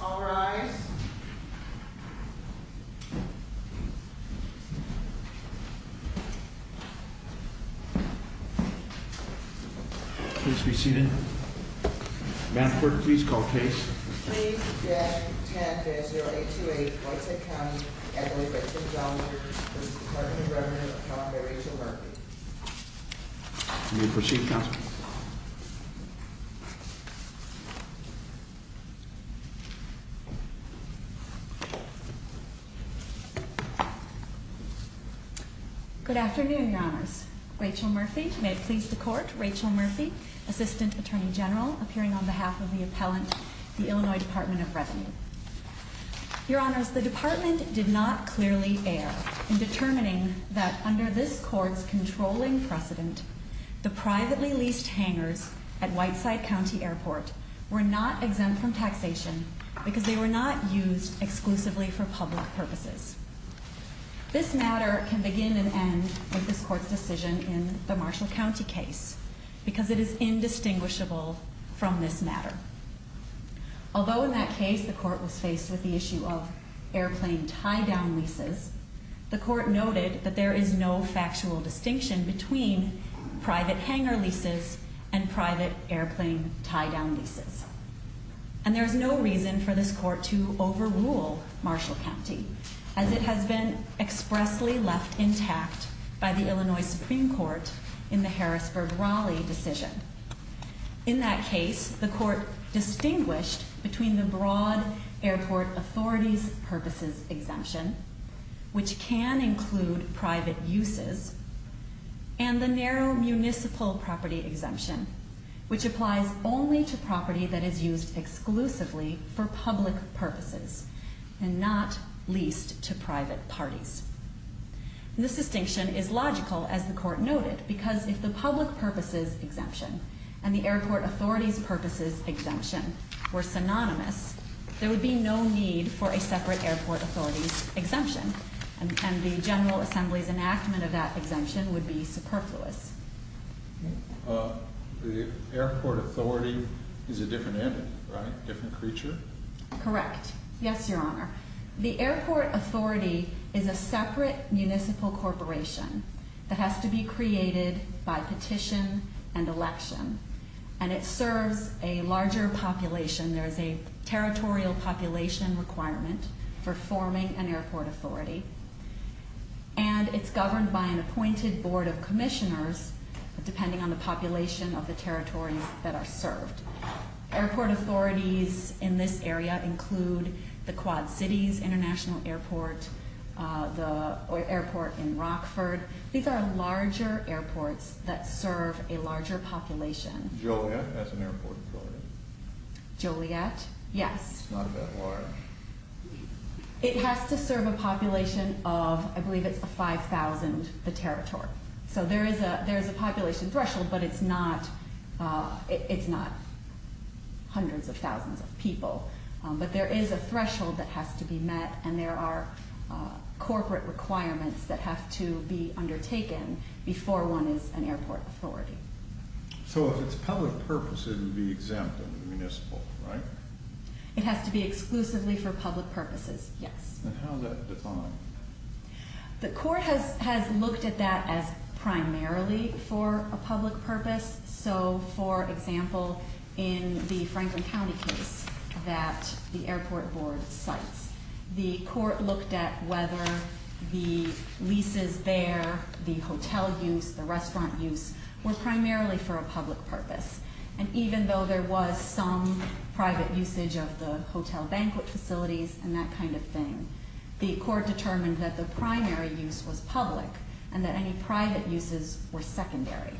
All rise. Please be seated. Madam Clerk, please call the case. Please judge 10-0828 Whiteside County v. Department of Revenue of Calgary to Murphy. You may proceed, Counsel. Good afternoon, Your Honors. Rachel Murphy, may it please the Court. Rachel Murphy, Assistant Attorney General, appearing on behalf of the appellant, the Illinois Department of Revenue. Your Honors, the Department did not clearly err in determining that under this Court's controlling precedent, the privately leased hangars at Whiteside County Airport were not exempt from taxation because they were not used exclusively for public purposes. This matter can begin and end with this Court's decision in the Marshall County case because it is indistinguishable from this matter. Although in that case the Court was faced with the issue of airplane tie-down leases, the Court noted that there is no factual distinction between private hangar leases and private airplane tie-down leases. And there is no reason for this Court to overrule Marshall County as it has been expressly left intact by the Illinois Supreme Court in the Harrisburg-Raleigh decision. In that case, the Court distinguished between the broad airport authorities' purposes exemption, which can include private uses, and the narrow municipal property exemption, which applies only to property that is used exclusively for public purposes and not leased to private parties. This distinction is logical, as the Court noted, because if the public purposes exemption and the airport authorities' purposes exemption were synonymous, there would be no need for a separate airport authorities' exemption and the General Assembly's enactment of that exemption would be superfluous. The airport authority is a different animal, right? A different creature? Correct. Yes, Your Honor. The airport authority is a separate municipal corporation that has to be created by petition and election, and it serves a larger population. There is a territorial population requirement for forming an airport authority, and it's governed by an appointed board of commissioners, depending on the population of the territories that are served. Airport authorities in this area include the Quad Cities International Airport, the airport in Rockford. These are larger airports that serve a larger population. Joliet has an airport authority. Joliet, yes. It's not that large. It has to serve a population of, I believe it's 5,000, the territory. So there is a population threshold, but it's not hundreds of thousands of people. But there is a threshold that has to be met, and there are corporate requirements that have to be undertaken before one is an airport authority. So if it's public purpose, it would be exempt under the municipal, right? It has to be exclusively for public purposes, yes. And how is that defined? The court has looked at that as primarily for a public purpose. So, for example, in the Franklin County case that the airport board cites, the court looked at whether the leases there, the hotel use, the restaurant use, were primarily for a public purpose. And even though there was some private usage of the hotel banquet facilities and that kind of thing, the court determined that the primary use was public and that any private uses were secondary.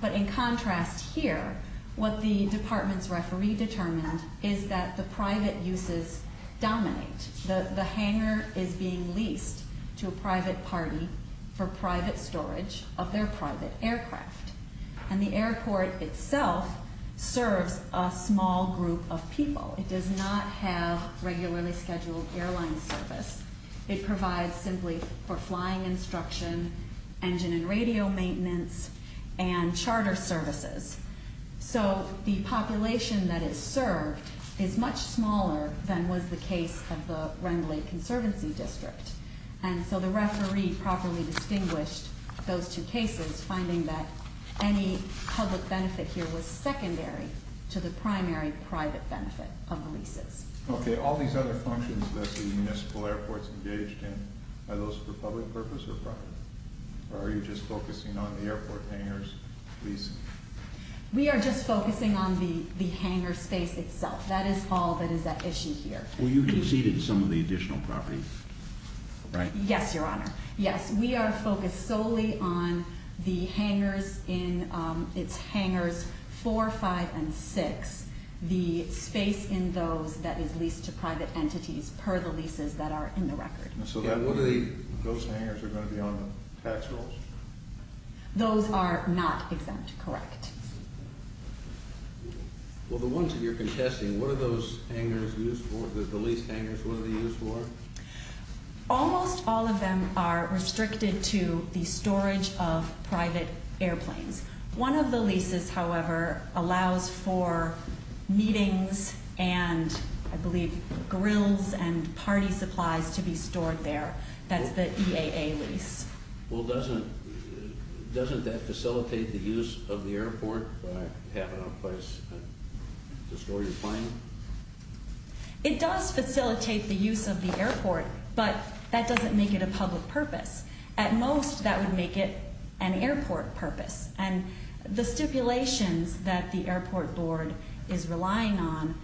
But in contrast here, what the department's referee determined is that the private uses dominate. The hangar is being leased to a private party for private storage of their private aircraft. And the airport itself serves a small group of people. It does not have regularly scheduled airline service. It provides simply for flying instruction, engine and radio maintenance, and charter services. So the population that is served is much smaller than was the case of the Wrendley Conservancy District. And so the referee properly distinguished those two cases, finding that any public benefit here was secondary to the primary private benefit of the leases. Okay, all these other functions that the municipal airports engaged in, are those for public purpose or private? Or are you just focusing on the airport hangars leasing? We are just focusing on the hangar space itself. That is all that is at issue here. Well, you conceded some of the additional property, right? Yes, Your Honor. Yes, we are focused solely on the hangars in its hangars 4, 5, and 6. The space in those that is leased to private entities per the leases that are in the record. So those hangars are going to be on the tax rolls? Those are not exempt, correct. Well, the ones that you're contesting, what are those hangars used for? The leased hangars, what are they used for? Almost all of them are restricted to the storage of private airplanes. One of the leases, however, allows for meetings and, I believe, grills and party supplies to be stored there. That's the EAA lease. Well, doesn't that facilitate the use of the airport by having a place to store your plane? It does facilitate the use of the airport, but that doesn't make it a public purpose. At most, that would make it an airport purpose. And the stipulations that the airport board is relying on,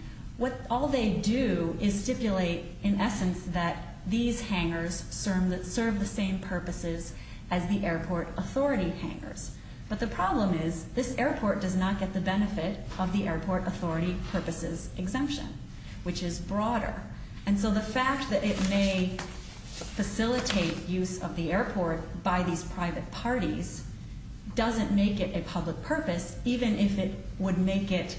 all they do is stipulate, in essence, that these hangars serve the same purposes as the airport authority hangars. But the problem is this airport does not get the benefit of the airport authority purposes exemption, which is broader. And so the fact that it may facilitate use of the airport by these private parties doesn't make it a public purpose, even if it would make it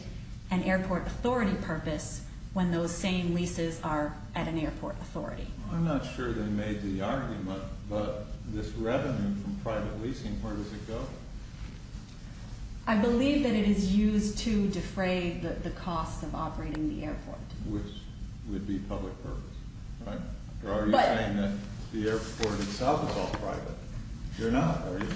an airport authority purpose when those same leases are at an airport authority. I'm not sure they made the argument, but this revenue from private leasing, where does it go? I believe that it is used to defray the cost of operating the airport. Which would be public purpose, right? You're already saying that the airport itself is all private. You're not, are you?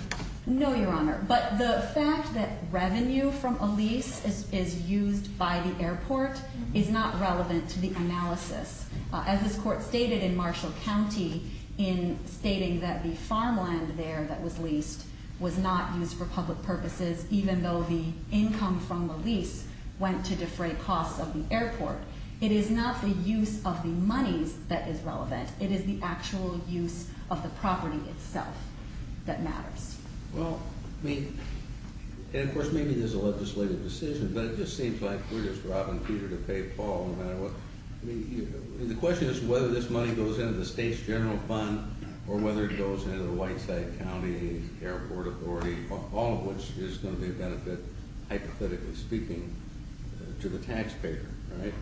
No, Your Honor. But the fact that revenue from a lease is used by the airport is not relevant to the analysis. As this court stated in Marshall County in stating that the farmland there that was leased was not used for public purposes, even though the income from the lease went to defray costs of the airport. It is not the use of the monies that is relevant. It is the actual use of the property itself that matters. Well, I mean, and of course, maybe there's a legislative decision, but it just seems like we're just robbing Peter to pay Paul no matter what. The question is whether this money goes into the state's general fund or whether it goes into the Whiteside County Airport Authority, all of which is going to be a benefit, hypothetically speaking, to the taxpayer, right?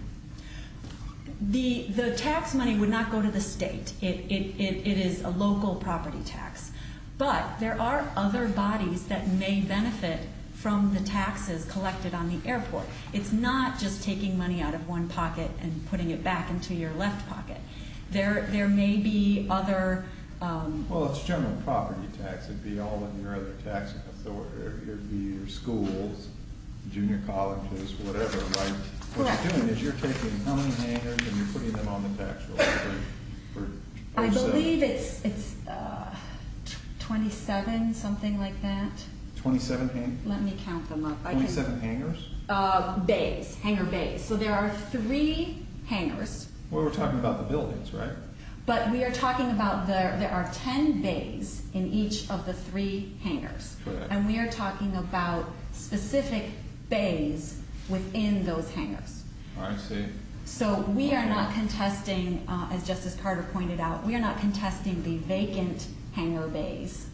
The tax money would not go to the state. It is a local property tax. But there are other bodies that may benefit from the taxes collected on the airport. It's not just taking money out of one pocket and putting it back into your left pocket. There may be other. Well, it's general property tax. It would be all of your other tax authority. It would be your schools, junior colleges, whatever, right? Correct. What you're doing is you're taking money handlers and you're putting them on the tax roll. I believe it's 27, something like that. 27 hangers? Let me count them up. 27 hangers? Bays, hangar bays. So there are three hangars. Well, we're talking about the buildings, right? But we are talking about there are ten bays in each of the three hangars. Correct. And we are talking about specific bays within those hangars. I see. So we are not contesting, as Justice Carter pointed out, we are not contesting the vacant hangar bays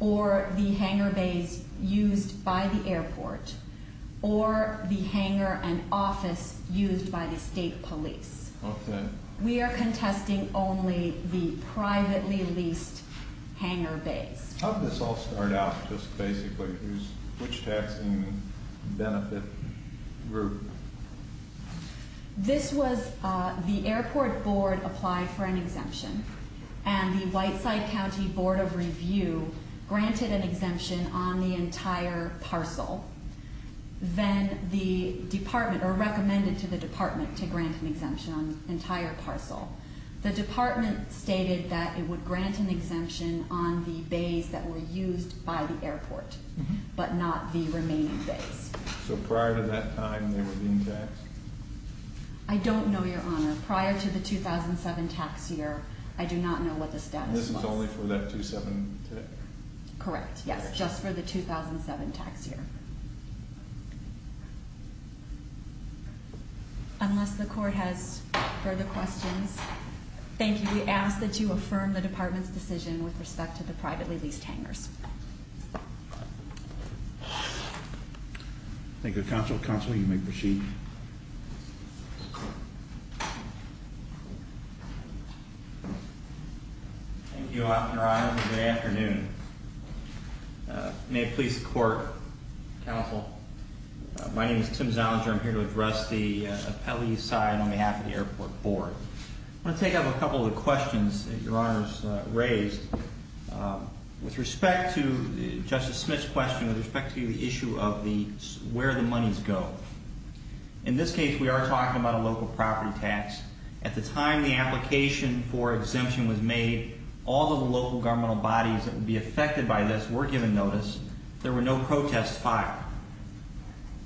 or the hangar bays used by the airport or the hangar and office used by the state police. Okay. We are contesting only the privately leased hangar bays. How did this all start out just basically? Which taxing benefit group? This was the airport board applied for an exemption, and the Whiteside County Board of Review granted an exemption on the entire parcel. Then the department, or recommended to the department to grant an exemption on the entire parcel. The department stated that it would grant an exemption on the bays that were used by the airport, but not the remaining bays. So prior to that time, they were being taxed? I don't know, Your Honor. Prior to the 2007 tax year, I do not know what the status was. This is only for that 2007 tax year? Correct, yes. Just for the 2007 tax year. Unless the court has further questions. Thank you. We ask that you affirm the department's decision with respect to the privately leased hangars. Thank you, Counsel. Counsel, you may proceed. Thank you, Your Honor. Good afternoon. May it please the court. Counsel, my name is Tim Zellinger. I'm here to address the appellee side on behalf of the airport board. I want to take up a couple of the questions that Your Honor has raised. With respect to Justice Smith's question, with respect to the issue of where the monies go. In this case, we are talking about a local property tax. At the time the application for exemption was made, all of the local governmental bodies that would be affected by this were given notice. There were no protests filed.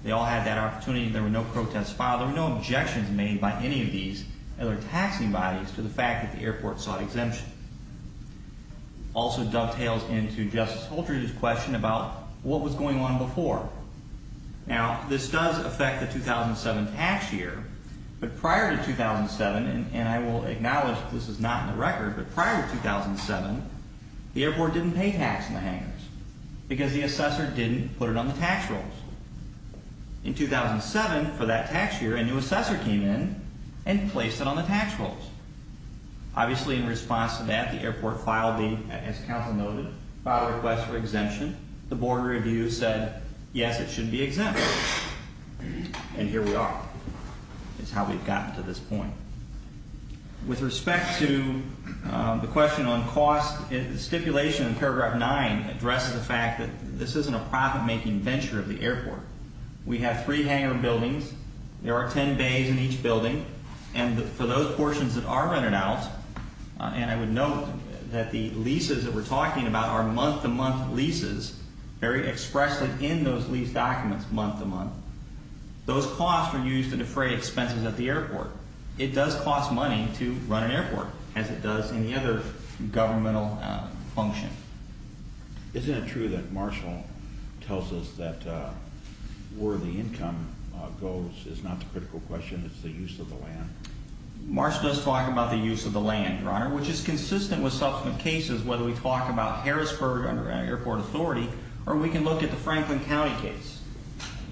They all had that opportunity. There were no protests filed. There were no objections made by any of these other taxing bodies to the fact that the airport sought exemption. Also dovetails into Justice Holter's question about what was going on before. Now, this does affect the 2007 tax year. But prior to 2007, and I will acknowledge this is not in the record, but prior to 2007, the airport didn't pay tax on the hangars. Because the assessor didn't put it on the tax rolls. In 2007, for that tax year, a new assessor came in and placed it on the tax rolls. Obviously, in response to that, the airport filed the, as counsel noted, filed a request for exemption. The board review said, yes, it should be exempted. And here we are. It's how we've gotten to this point. With respect to the question on cost, the stipulation in paragraph 9 addresses the fact that this isn't a profit-making venture of the airport. We have three hangar buildings. There are 10 bays in each building. And for those portions that are rented out, and I would note that the leases that we're talking about are month-to-month leases, very expressly in those lease documents, month-to-month. Those costs are used to defray expenses at the airport. It does cost money to run an airport, as it does any other governmental function. Isn't it true that Marshall tells us that where the income goes is not the critical question, it's the use of the land? Marshall does talk about the use of the land, Your Honor, which is consistent with subsequent cases, whether we talk about Harrisburg under airport authority or we can look at the Franklin County case.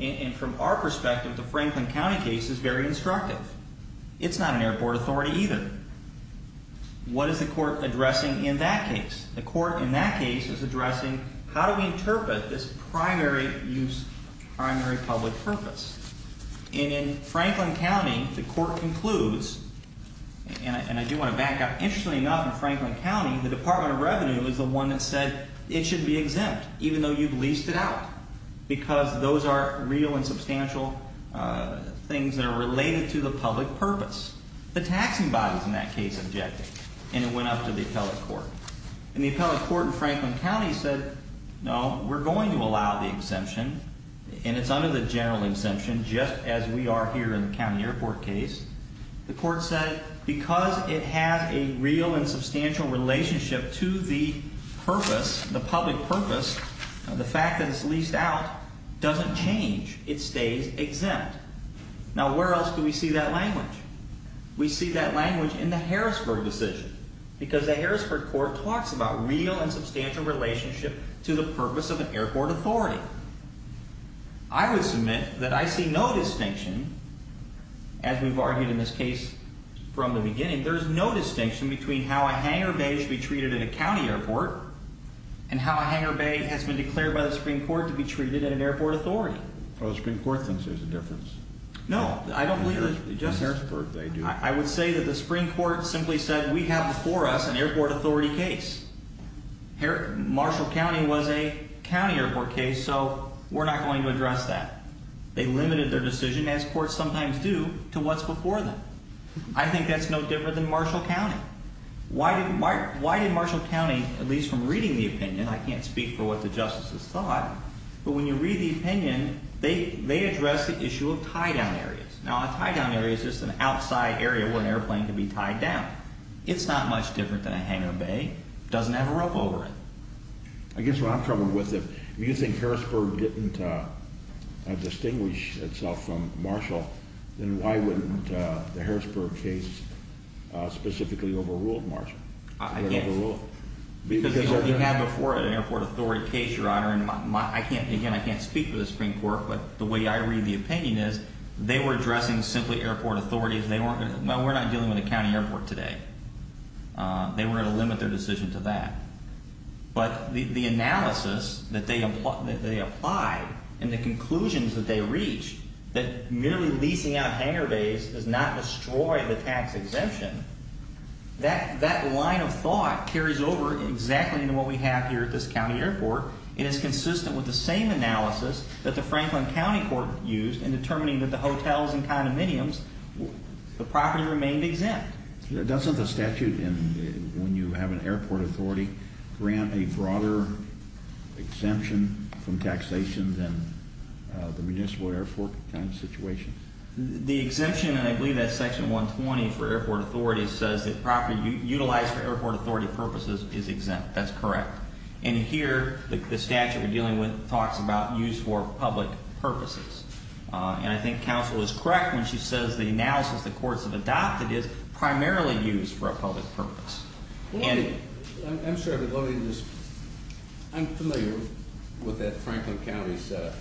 And from our perspective, the Franklin County case is very instructive. It's not an airport authority either. What is the court addressing in that case? The court in that case is addressing how do we interpret this primary use, primary public purpose? And in Franklin County, the court concludes, and I do want to back up. Interestingly enough, in Franklin County, the Department of Revenue is the one that said it should be exempt, even though you've leased it out, because those are real and substantial things that are related to the public purpose. The taxing bodies in that case objected, and it went up to the appellate court. And the appellate court in Franklin County said, no, we're going to allow the exemption, and it's under the general exemption just as we are here in the county airport case. The court said, because it has a real and substantial relationship to the purpose, the public purpose, the fact that it's leased out doesn't change. It stays exempt. Now, where else do we see that language? We see that language in the Harrisburg decision, because the Harrisburg court talks about real and substantial relationship to the purpose of an airport authority. I would submit that I see no distinction, as we've argued in this case from the beginning, there's no distinction between how a hangar bay should be treated at a county airport and how a hangar bay has been declared by the Supreme Court to be treated at an airport authority. Well, the Supreme Court thinks there's a difference. No, I don't believe that. In Harrisburg, they do. I would say that the Supreme Court simply said, we have before us an airport authority case. Marshall County was a county airport case, so we're not going to address that. They limited their decision, as courts sometimes do, to what's before them. I think that's no different than Marshall County. Why did Marshall County, at least from reading the opinion, I can't speak for what the justices thought, but when you read the opinion, they address the issue of tie-down areas. Now, a tie-down area is just an outside area where an airplane can be tied down. It's not much different than a hangar bay. It doesn't have a rope over it. I guess what I'm troubled with, if you think Harrisburg didn't distinguish itself from Marshall, then why wouldn't the Harrisburg case specifically overrule Marshall? I guess because we had before an airport authority case, Your Honor, and again, I can't speak for the Supreme Court, but the way I read the opinion is they were addressing simply airport authority. We're not dealing with a county airport today. They were going to limit their decision to that. But the analysis that they applied and the conclusions that they reached, that merely leasing out hangar bays does not destroy the tax exemption, that line of thought carries over exactly into what we have here at this county airport and is consistent with the same analysis that the Franklin County Court used in determining that the hotels and condominiums, the property remained exempt. Doesn't the statute, when you have an airport authority, grant a broader exemption from taxation than the municipal airport kind of situation? The exemption, and I believe that's Section 120 for airport authority, says that property utilized for airport authority purposes is exempt. That's correct. And here, the statute we're dealing with talks about use for public purposes, and I think counsel is correct when she says the analysis the courts have adopted is primarily used for a public purpose. I'm familiar with that Franklin County setup.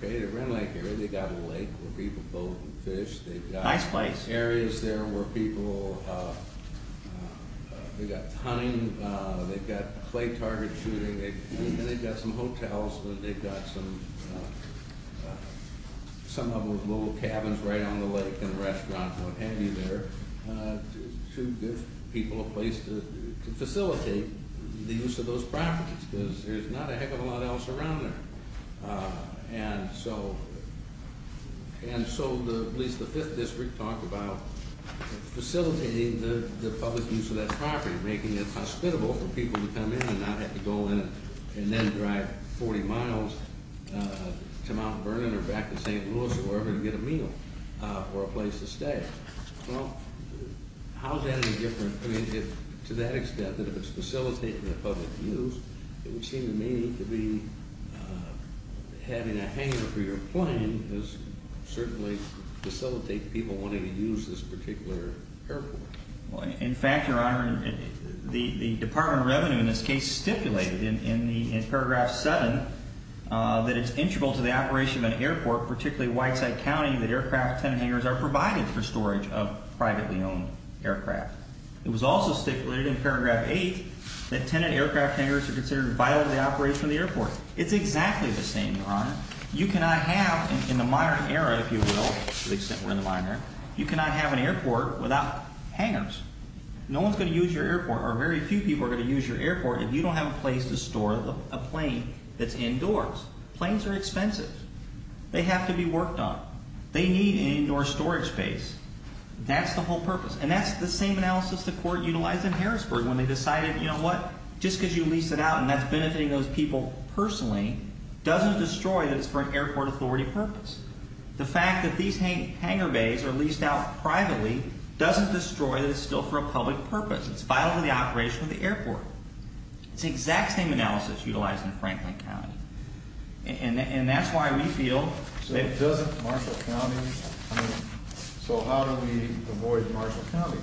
They've got a lake where people boat and fish. Nice place. They've got areas there where people, they've got hunting, they've got clay target shooting, and they've got some hotels and they've got some of those little cabins right on the lake and restaurants and what have you there to give people a place to facilitate the use of those properties because there's not a heck of a lot else around there. And so at least the 5th District talked about facilitating the public use of that property, making it hospitable for people to come in and not have to go in and then drive 40 miles to Mount Vernon or back to St. Louis or wherever to get a meal or a place to stay. To that extent, that if it's facilitating the public use, it would seem to me to be having a hanger for your plane does certainly facilitate people wanting to use this particular airport. In fact, Your Honor, the Department of Revenue in this case stipulated in paragraph 7 that it's integral to the operation of an airport, particularly Whiteside County, that aircraft tenant hangers are provided for storage of privately owned aircraft. It was also stipulated in paragraph 8 that tenant aircraft hangers are considered violent of the operation of the airport. It's exactly the same, Your Honor. You cannot have in the modern era, if you will, to the extent we're in the modern era, you cannot have an airport without hangers. No one's going to use your airport or very few people are going to use your airport if you don't have a place to store a plane that's indoors. Planes are expensive. They have to be worked on. They need an indoor storage space. That's the whole purpose. And that's the same analysis the court utilized in Harrisburg when they decided, you know what, just because you lease it out and that's benefiting those people personally doesn't destroy that it's for an airport authority purpose. The fact that these hanger bays are leased out privately doesn't destroy that it's still for a public purpose. It's vital to the operation of the airport. It's the exact same analysis utilized in Franklin County. And that's why we feel... So how do we avoid Marshall County?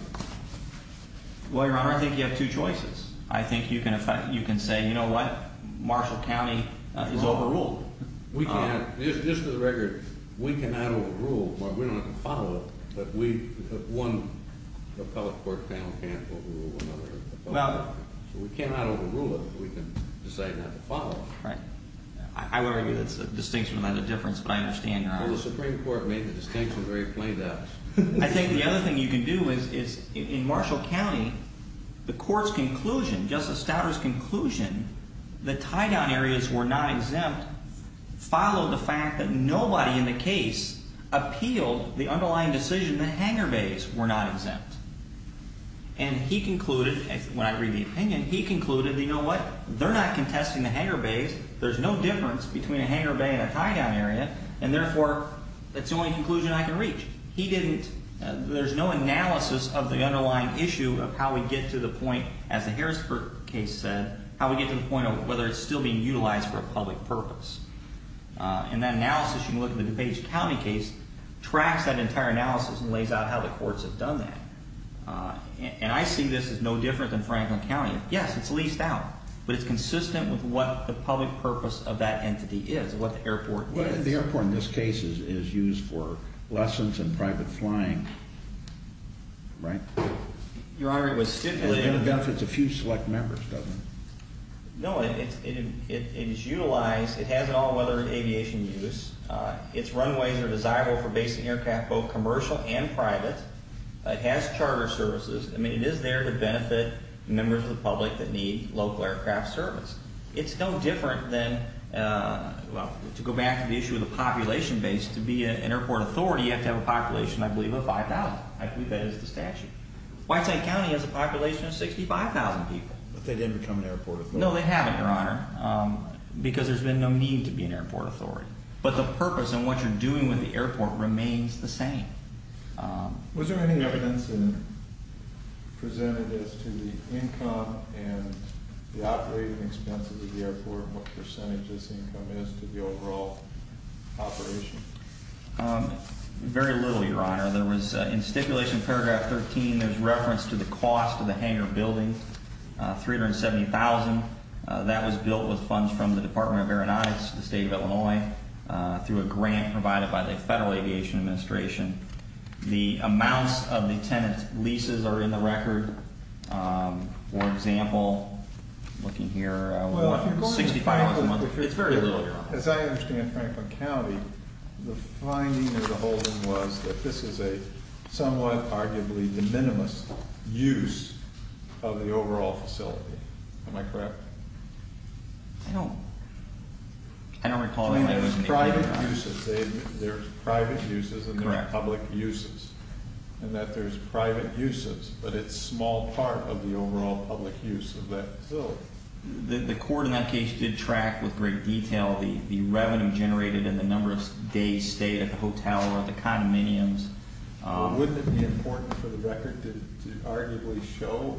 Well, Your Honor, I think you have two choices. I think you can say, you know what, Marshall County is overruled. We can't. Just for the record, we cannot overrule. We don't have to follow it, but one appellate court panel can't overrule another appellate court panel. We cannot overrule it, but we can decide not to follow it. I would argue that's a distinction without a difference, but I understand, Your Honor. Well, the Supreme Court made the distinction very plain to us. I think the other thing you can do is in Marshall County, the court's conclusion, Justice Stouter's conclusion that tie-down areas were not exempt followed the fact that nobody in the case appealed the underlying decision that hanger bays were not exempt. And he concluded, when I read the opinion, he concluded, you know what, they're not contesting the hanger bays. There's no difference between a hanger bay and a tie-down area, and therefore, that's the only conclusion I can reach. He didn't... There's no analysis of the underlying issue of how we get to the point, as the Harrisburg case said, how we get to the point of whether it's still being utilized for a public purpose. And that analysis, you can look at the DuPage County case, tracks that entire analysis and lays out how the courts have done that. And I see this as no different than Franklin County. Yes, it's leased out, but it's consistent with what the public purpose of that entity is, what the airport is. The airport in this case is used for lessons and private flying, right? Your Honor, it was... It benefits a few select members, doesn't it? No, it is utilized. It has all-weather aviation use. Its runways are desirable for basic aircraft, both commercial and private. It has charter services. I mean, it is there to benefit members of the public that need local aircraft service. It's no different than, well, to go back to the issue of the population base. To be an airport authority, you have to have a population, I believe, of 5,000. I believe that is the statute. Whitetown County has a population of 65,000 people. But they didn't become an airport authority? No, they haven't, Your Honor, because there's been no need to be an airport authority. But the purpose and what you're doing with the airport remains the same. Was there any evidence presented as to the income and the operating expenses of the airport, what percentage this income is to the overall operation? Very little, Your Honor. In stipulation paragraph 13, there's reference to the cost of the hangar building, $370,000. That was built with funds from the Department of Aeronautics, the state of Illinois, through a grant provided by the Federal Aviation Administration. The amounts of the tenant leases are in the record. For example, looking here, $165,000 a month. It's very little, Your Honor. As I understand, Franklin County, the finding of the holding was that this is a somewhat, arguably, de minimis use of the overall facility. Am I correct? I don't recall that it was made. Private uses. There's private uses and there are public uses. And that there's private uses, but it's a small part of the overall public use of that facility. The court in that case did track with great detail the revenue generated in the number of days stayed at the hotel or at the condominiums. Wouldn't it be important for the record to arguably show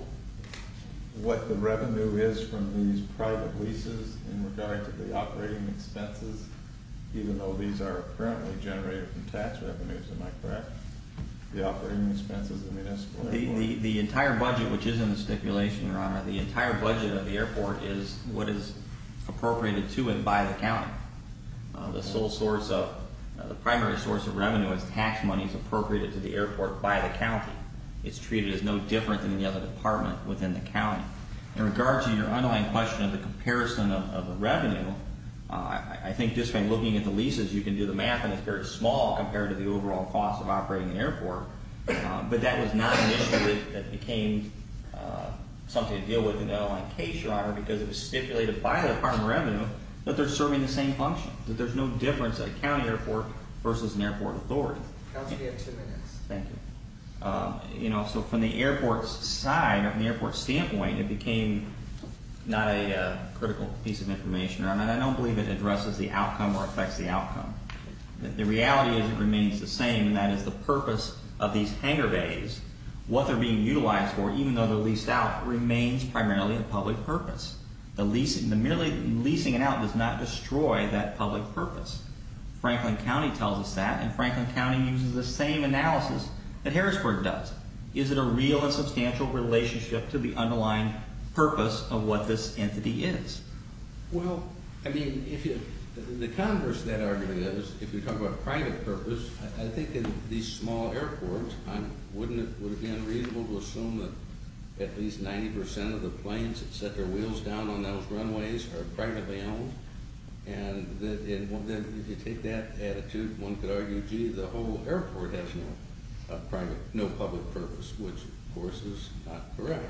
what the revenue is from these private leases in regard to the operating expenses, even though these are apparently generated from tax revenues? Am I correct? The operating expenses of the municipal airport. The entire budget, which is in the stipulation, Your Honor, the entire budget of the airport is what is appropriated to and by the county. The sole source of, the primary source of revenue is tax monies appropriated to the airport by the county. It's treated as no different than any other department within the county. In regard to your underlying question of the comparison of the revenue, I think just by looking at the leases, you can do the math, and it's very small compared to the overall cost of operating an airport. But that was not an issue that became something to deal with in the underlying case, Your Honor, because it was stipulated by the Department of Revenue that they're serving the same function, that there's no difference at a county airport versus an airport authority. Counsel, you have two minutes. Thank you. You know, so from the airport's side, from the airport's standpoint, it became not a critical piece of information. I don't believe it addresses the outcome or affects the outcome. The reality is it remains the same, and that is the purpose of these hangar bays, what they're being utilized for, even though they're leased out, remains primarily a public purpose. The merely leasing it out does not destroy that public purpose. Franklin County tells us that, and Franklin County uses the same analysis that Harrisburg does. Is it a real and substantial relationship to the underlying purpose of what this entity is? Well, I mean, the converse of that argument is, if you talk about private purpose, I think in these small airports, wouldn't it be unreasonable to assume that at least 90 percent of the planes that set their wheels down on those runways are privately owned? And if you take that attitude, one could argue, gee, the whole airport has no public purpose, which, of course, is not correct.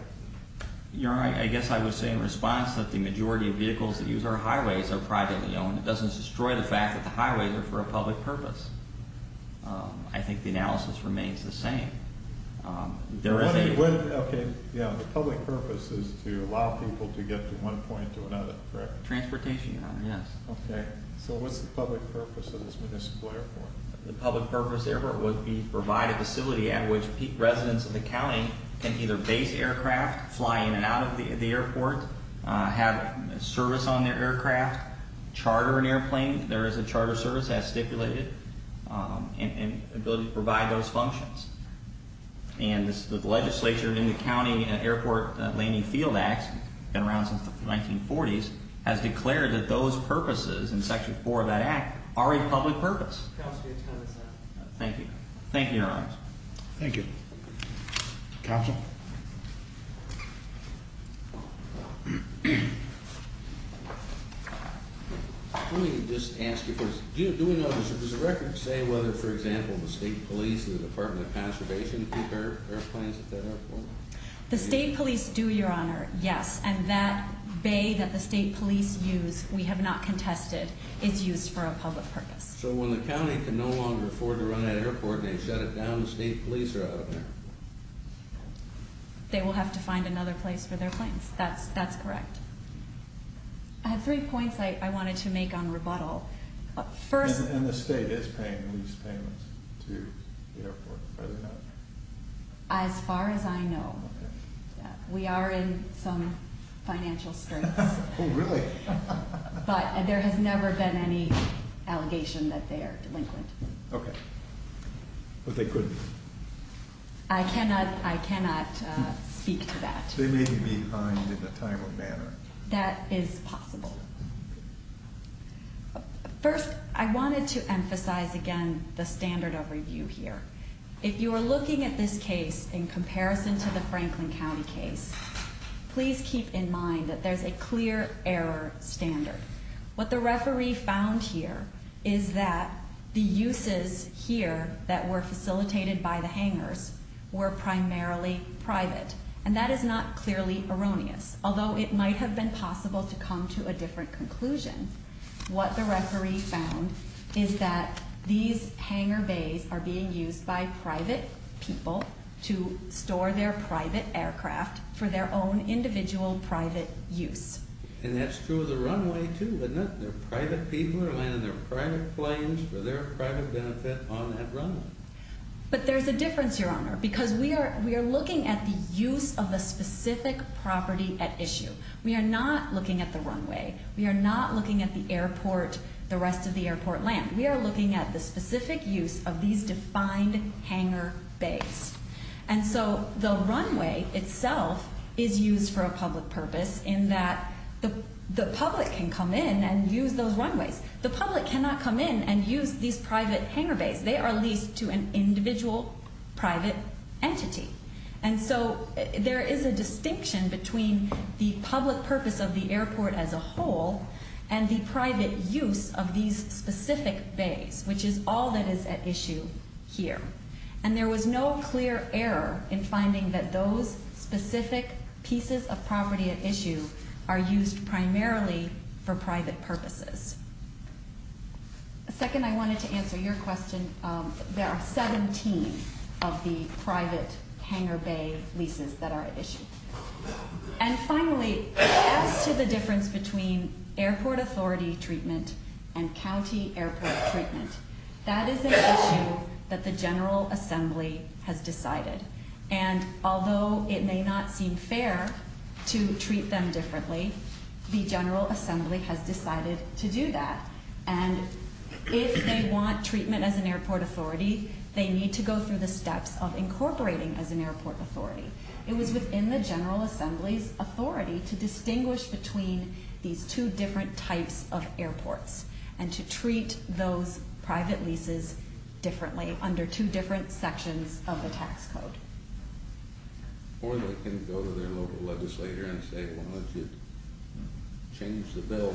You know, I guess I would say in response that the majority of vehicles that use our highways are privately owned. It doesn't destroy the fact that the highways are for a public purpose. I think the analysis remains the same. Okay, yeah, the public purpose is to allow people to get from one point to another, correct? Transportation, Your Honor, yes. Okay, so what's the public purpose of this municipal airport? The public purpose of the airport would be to provide a facility at which peak residents of the county can either base aircraft, fly in and out of the airport, have service on their aircraft, charter an airplane. There is a charter service, as stipulated, and the ability to provide those functions. And the legislature in the County Airport Landing Field Act, been around since the 1940s, has declared that those purposes in Section 4 of that act are a public purpose. Counsel to be attended, sir. Thank you. Thank you, Your Honor. Thank you. Counsel? Let me just ask you first. Do we know, does the record say whether, for example, the state police and the Department of Conservation keep airplanes at that airport? The state police do, Your Honor, yes. And that bay that the state police use, we have not contested, is used for a public purpose. So when the county can no longer afford to run that airport, they shut it down and sneak police around there? They will have to find another place for their planes. That's correct. I have three points I wanted to make on rebuttal. First... And the state is paying lease payments to the airport, are they not? As far as I know. We are in some financial straits. Oh, really? But there has never been any allegation that they are delinquent. Okay. But they could be. I cannot speak to that. They may be behind in a timely manner. That is possible. First, I wanted to emphasize again the standard of review here. If you are looking at this case in comparison to the Franklin County case, please keep in mind that there is a clear error standard. What the referee found here is that the uses here that were facilitated by the hangars were primarily private. And that is not clearly erroneous, although it might have been possible to come to a different conclusion. What the referee found is that these hangar bays are being used by private people to store their private aircraft for their own individual private use. And that's true of the runway, too, isn't it? Private people are landing their private planes for their private benefit on that runway. But there's a difference, Your Honor, because we are looking at the use of the specific property at issue. We are not looking at the runway. We are not looking at the airport, the rest of the airport land. We are looking at the specific use of these defined hangar bays. And so the runway itself is used for a public purpose in that the public can come in and use those runways. The public cannot come in and use these private hangar bays. They are leased to an individual private entity. And so there is a distinction between the public purpose of the airport as a whole and the private use of these specific bays, which is all that is at issue here. And there was no clear error in finding that those specific pieces of property at issue are used primarily for private purposes. Second, I wanted to answer your question. There are 17 of the private hangar bay leases that are at issue. And finally, as to the difference between airport authority treatment and county airport treatment, that is an issue that the General Assembly has decided. And although it may not seem fair to treat them differently, the General Assembly has decided to do that. And if they want treatment as an airport authority, they need to go through the steps of incorporating as an airport authority. It was within the General Assembly's authority to distinguish between these two different types of airports and to treat those private leases differently under two different sections of the tax code. Or they can go to their local legislator and say, why don't you change the bill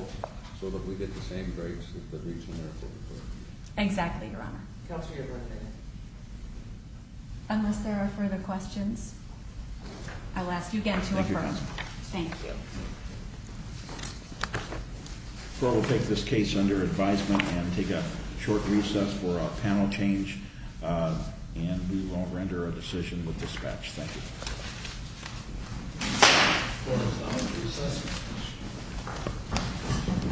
so that we get the same rates as the regional airport authority. Exactly, Your Honor. Counsel, you're adjourned. Unless there are further questions, I'll ask you again to adjourn. Thank you, Counsel. Thank you. We'll take this case under advisement and take a short recess for a panel change. And we will render a decision with dispatch. Thank you.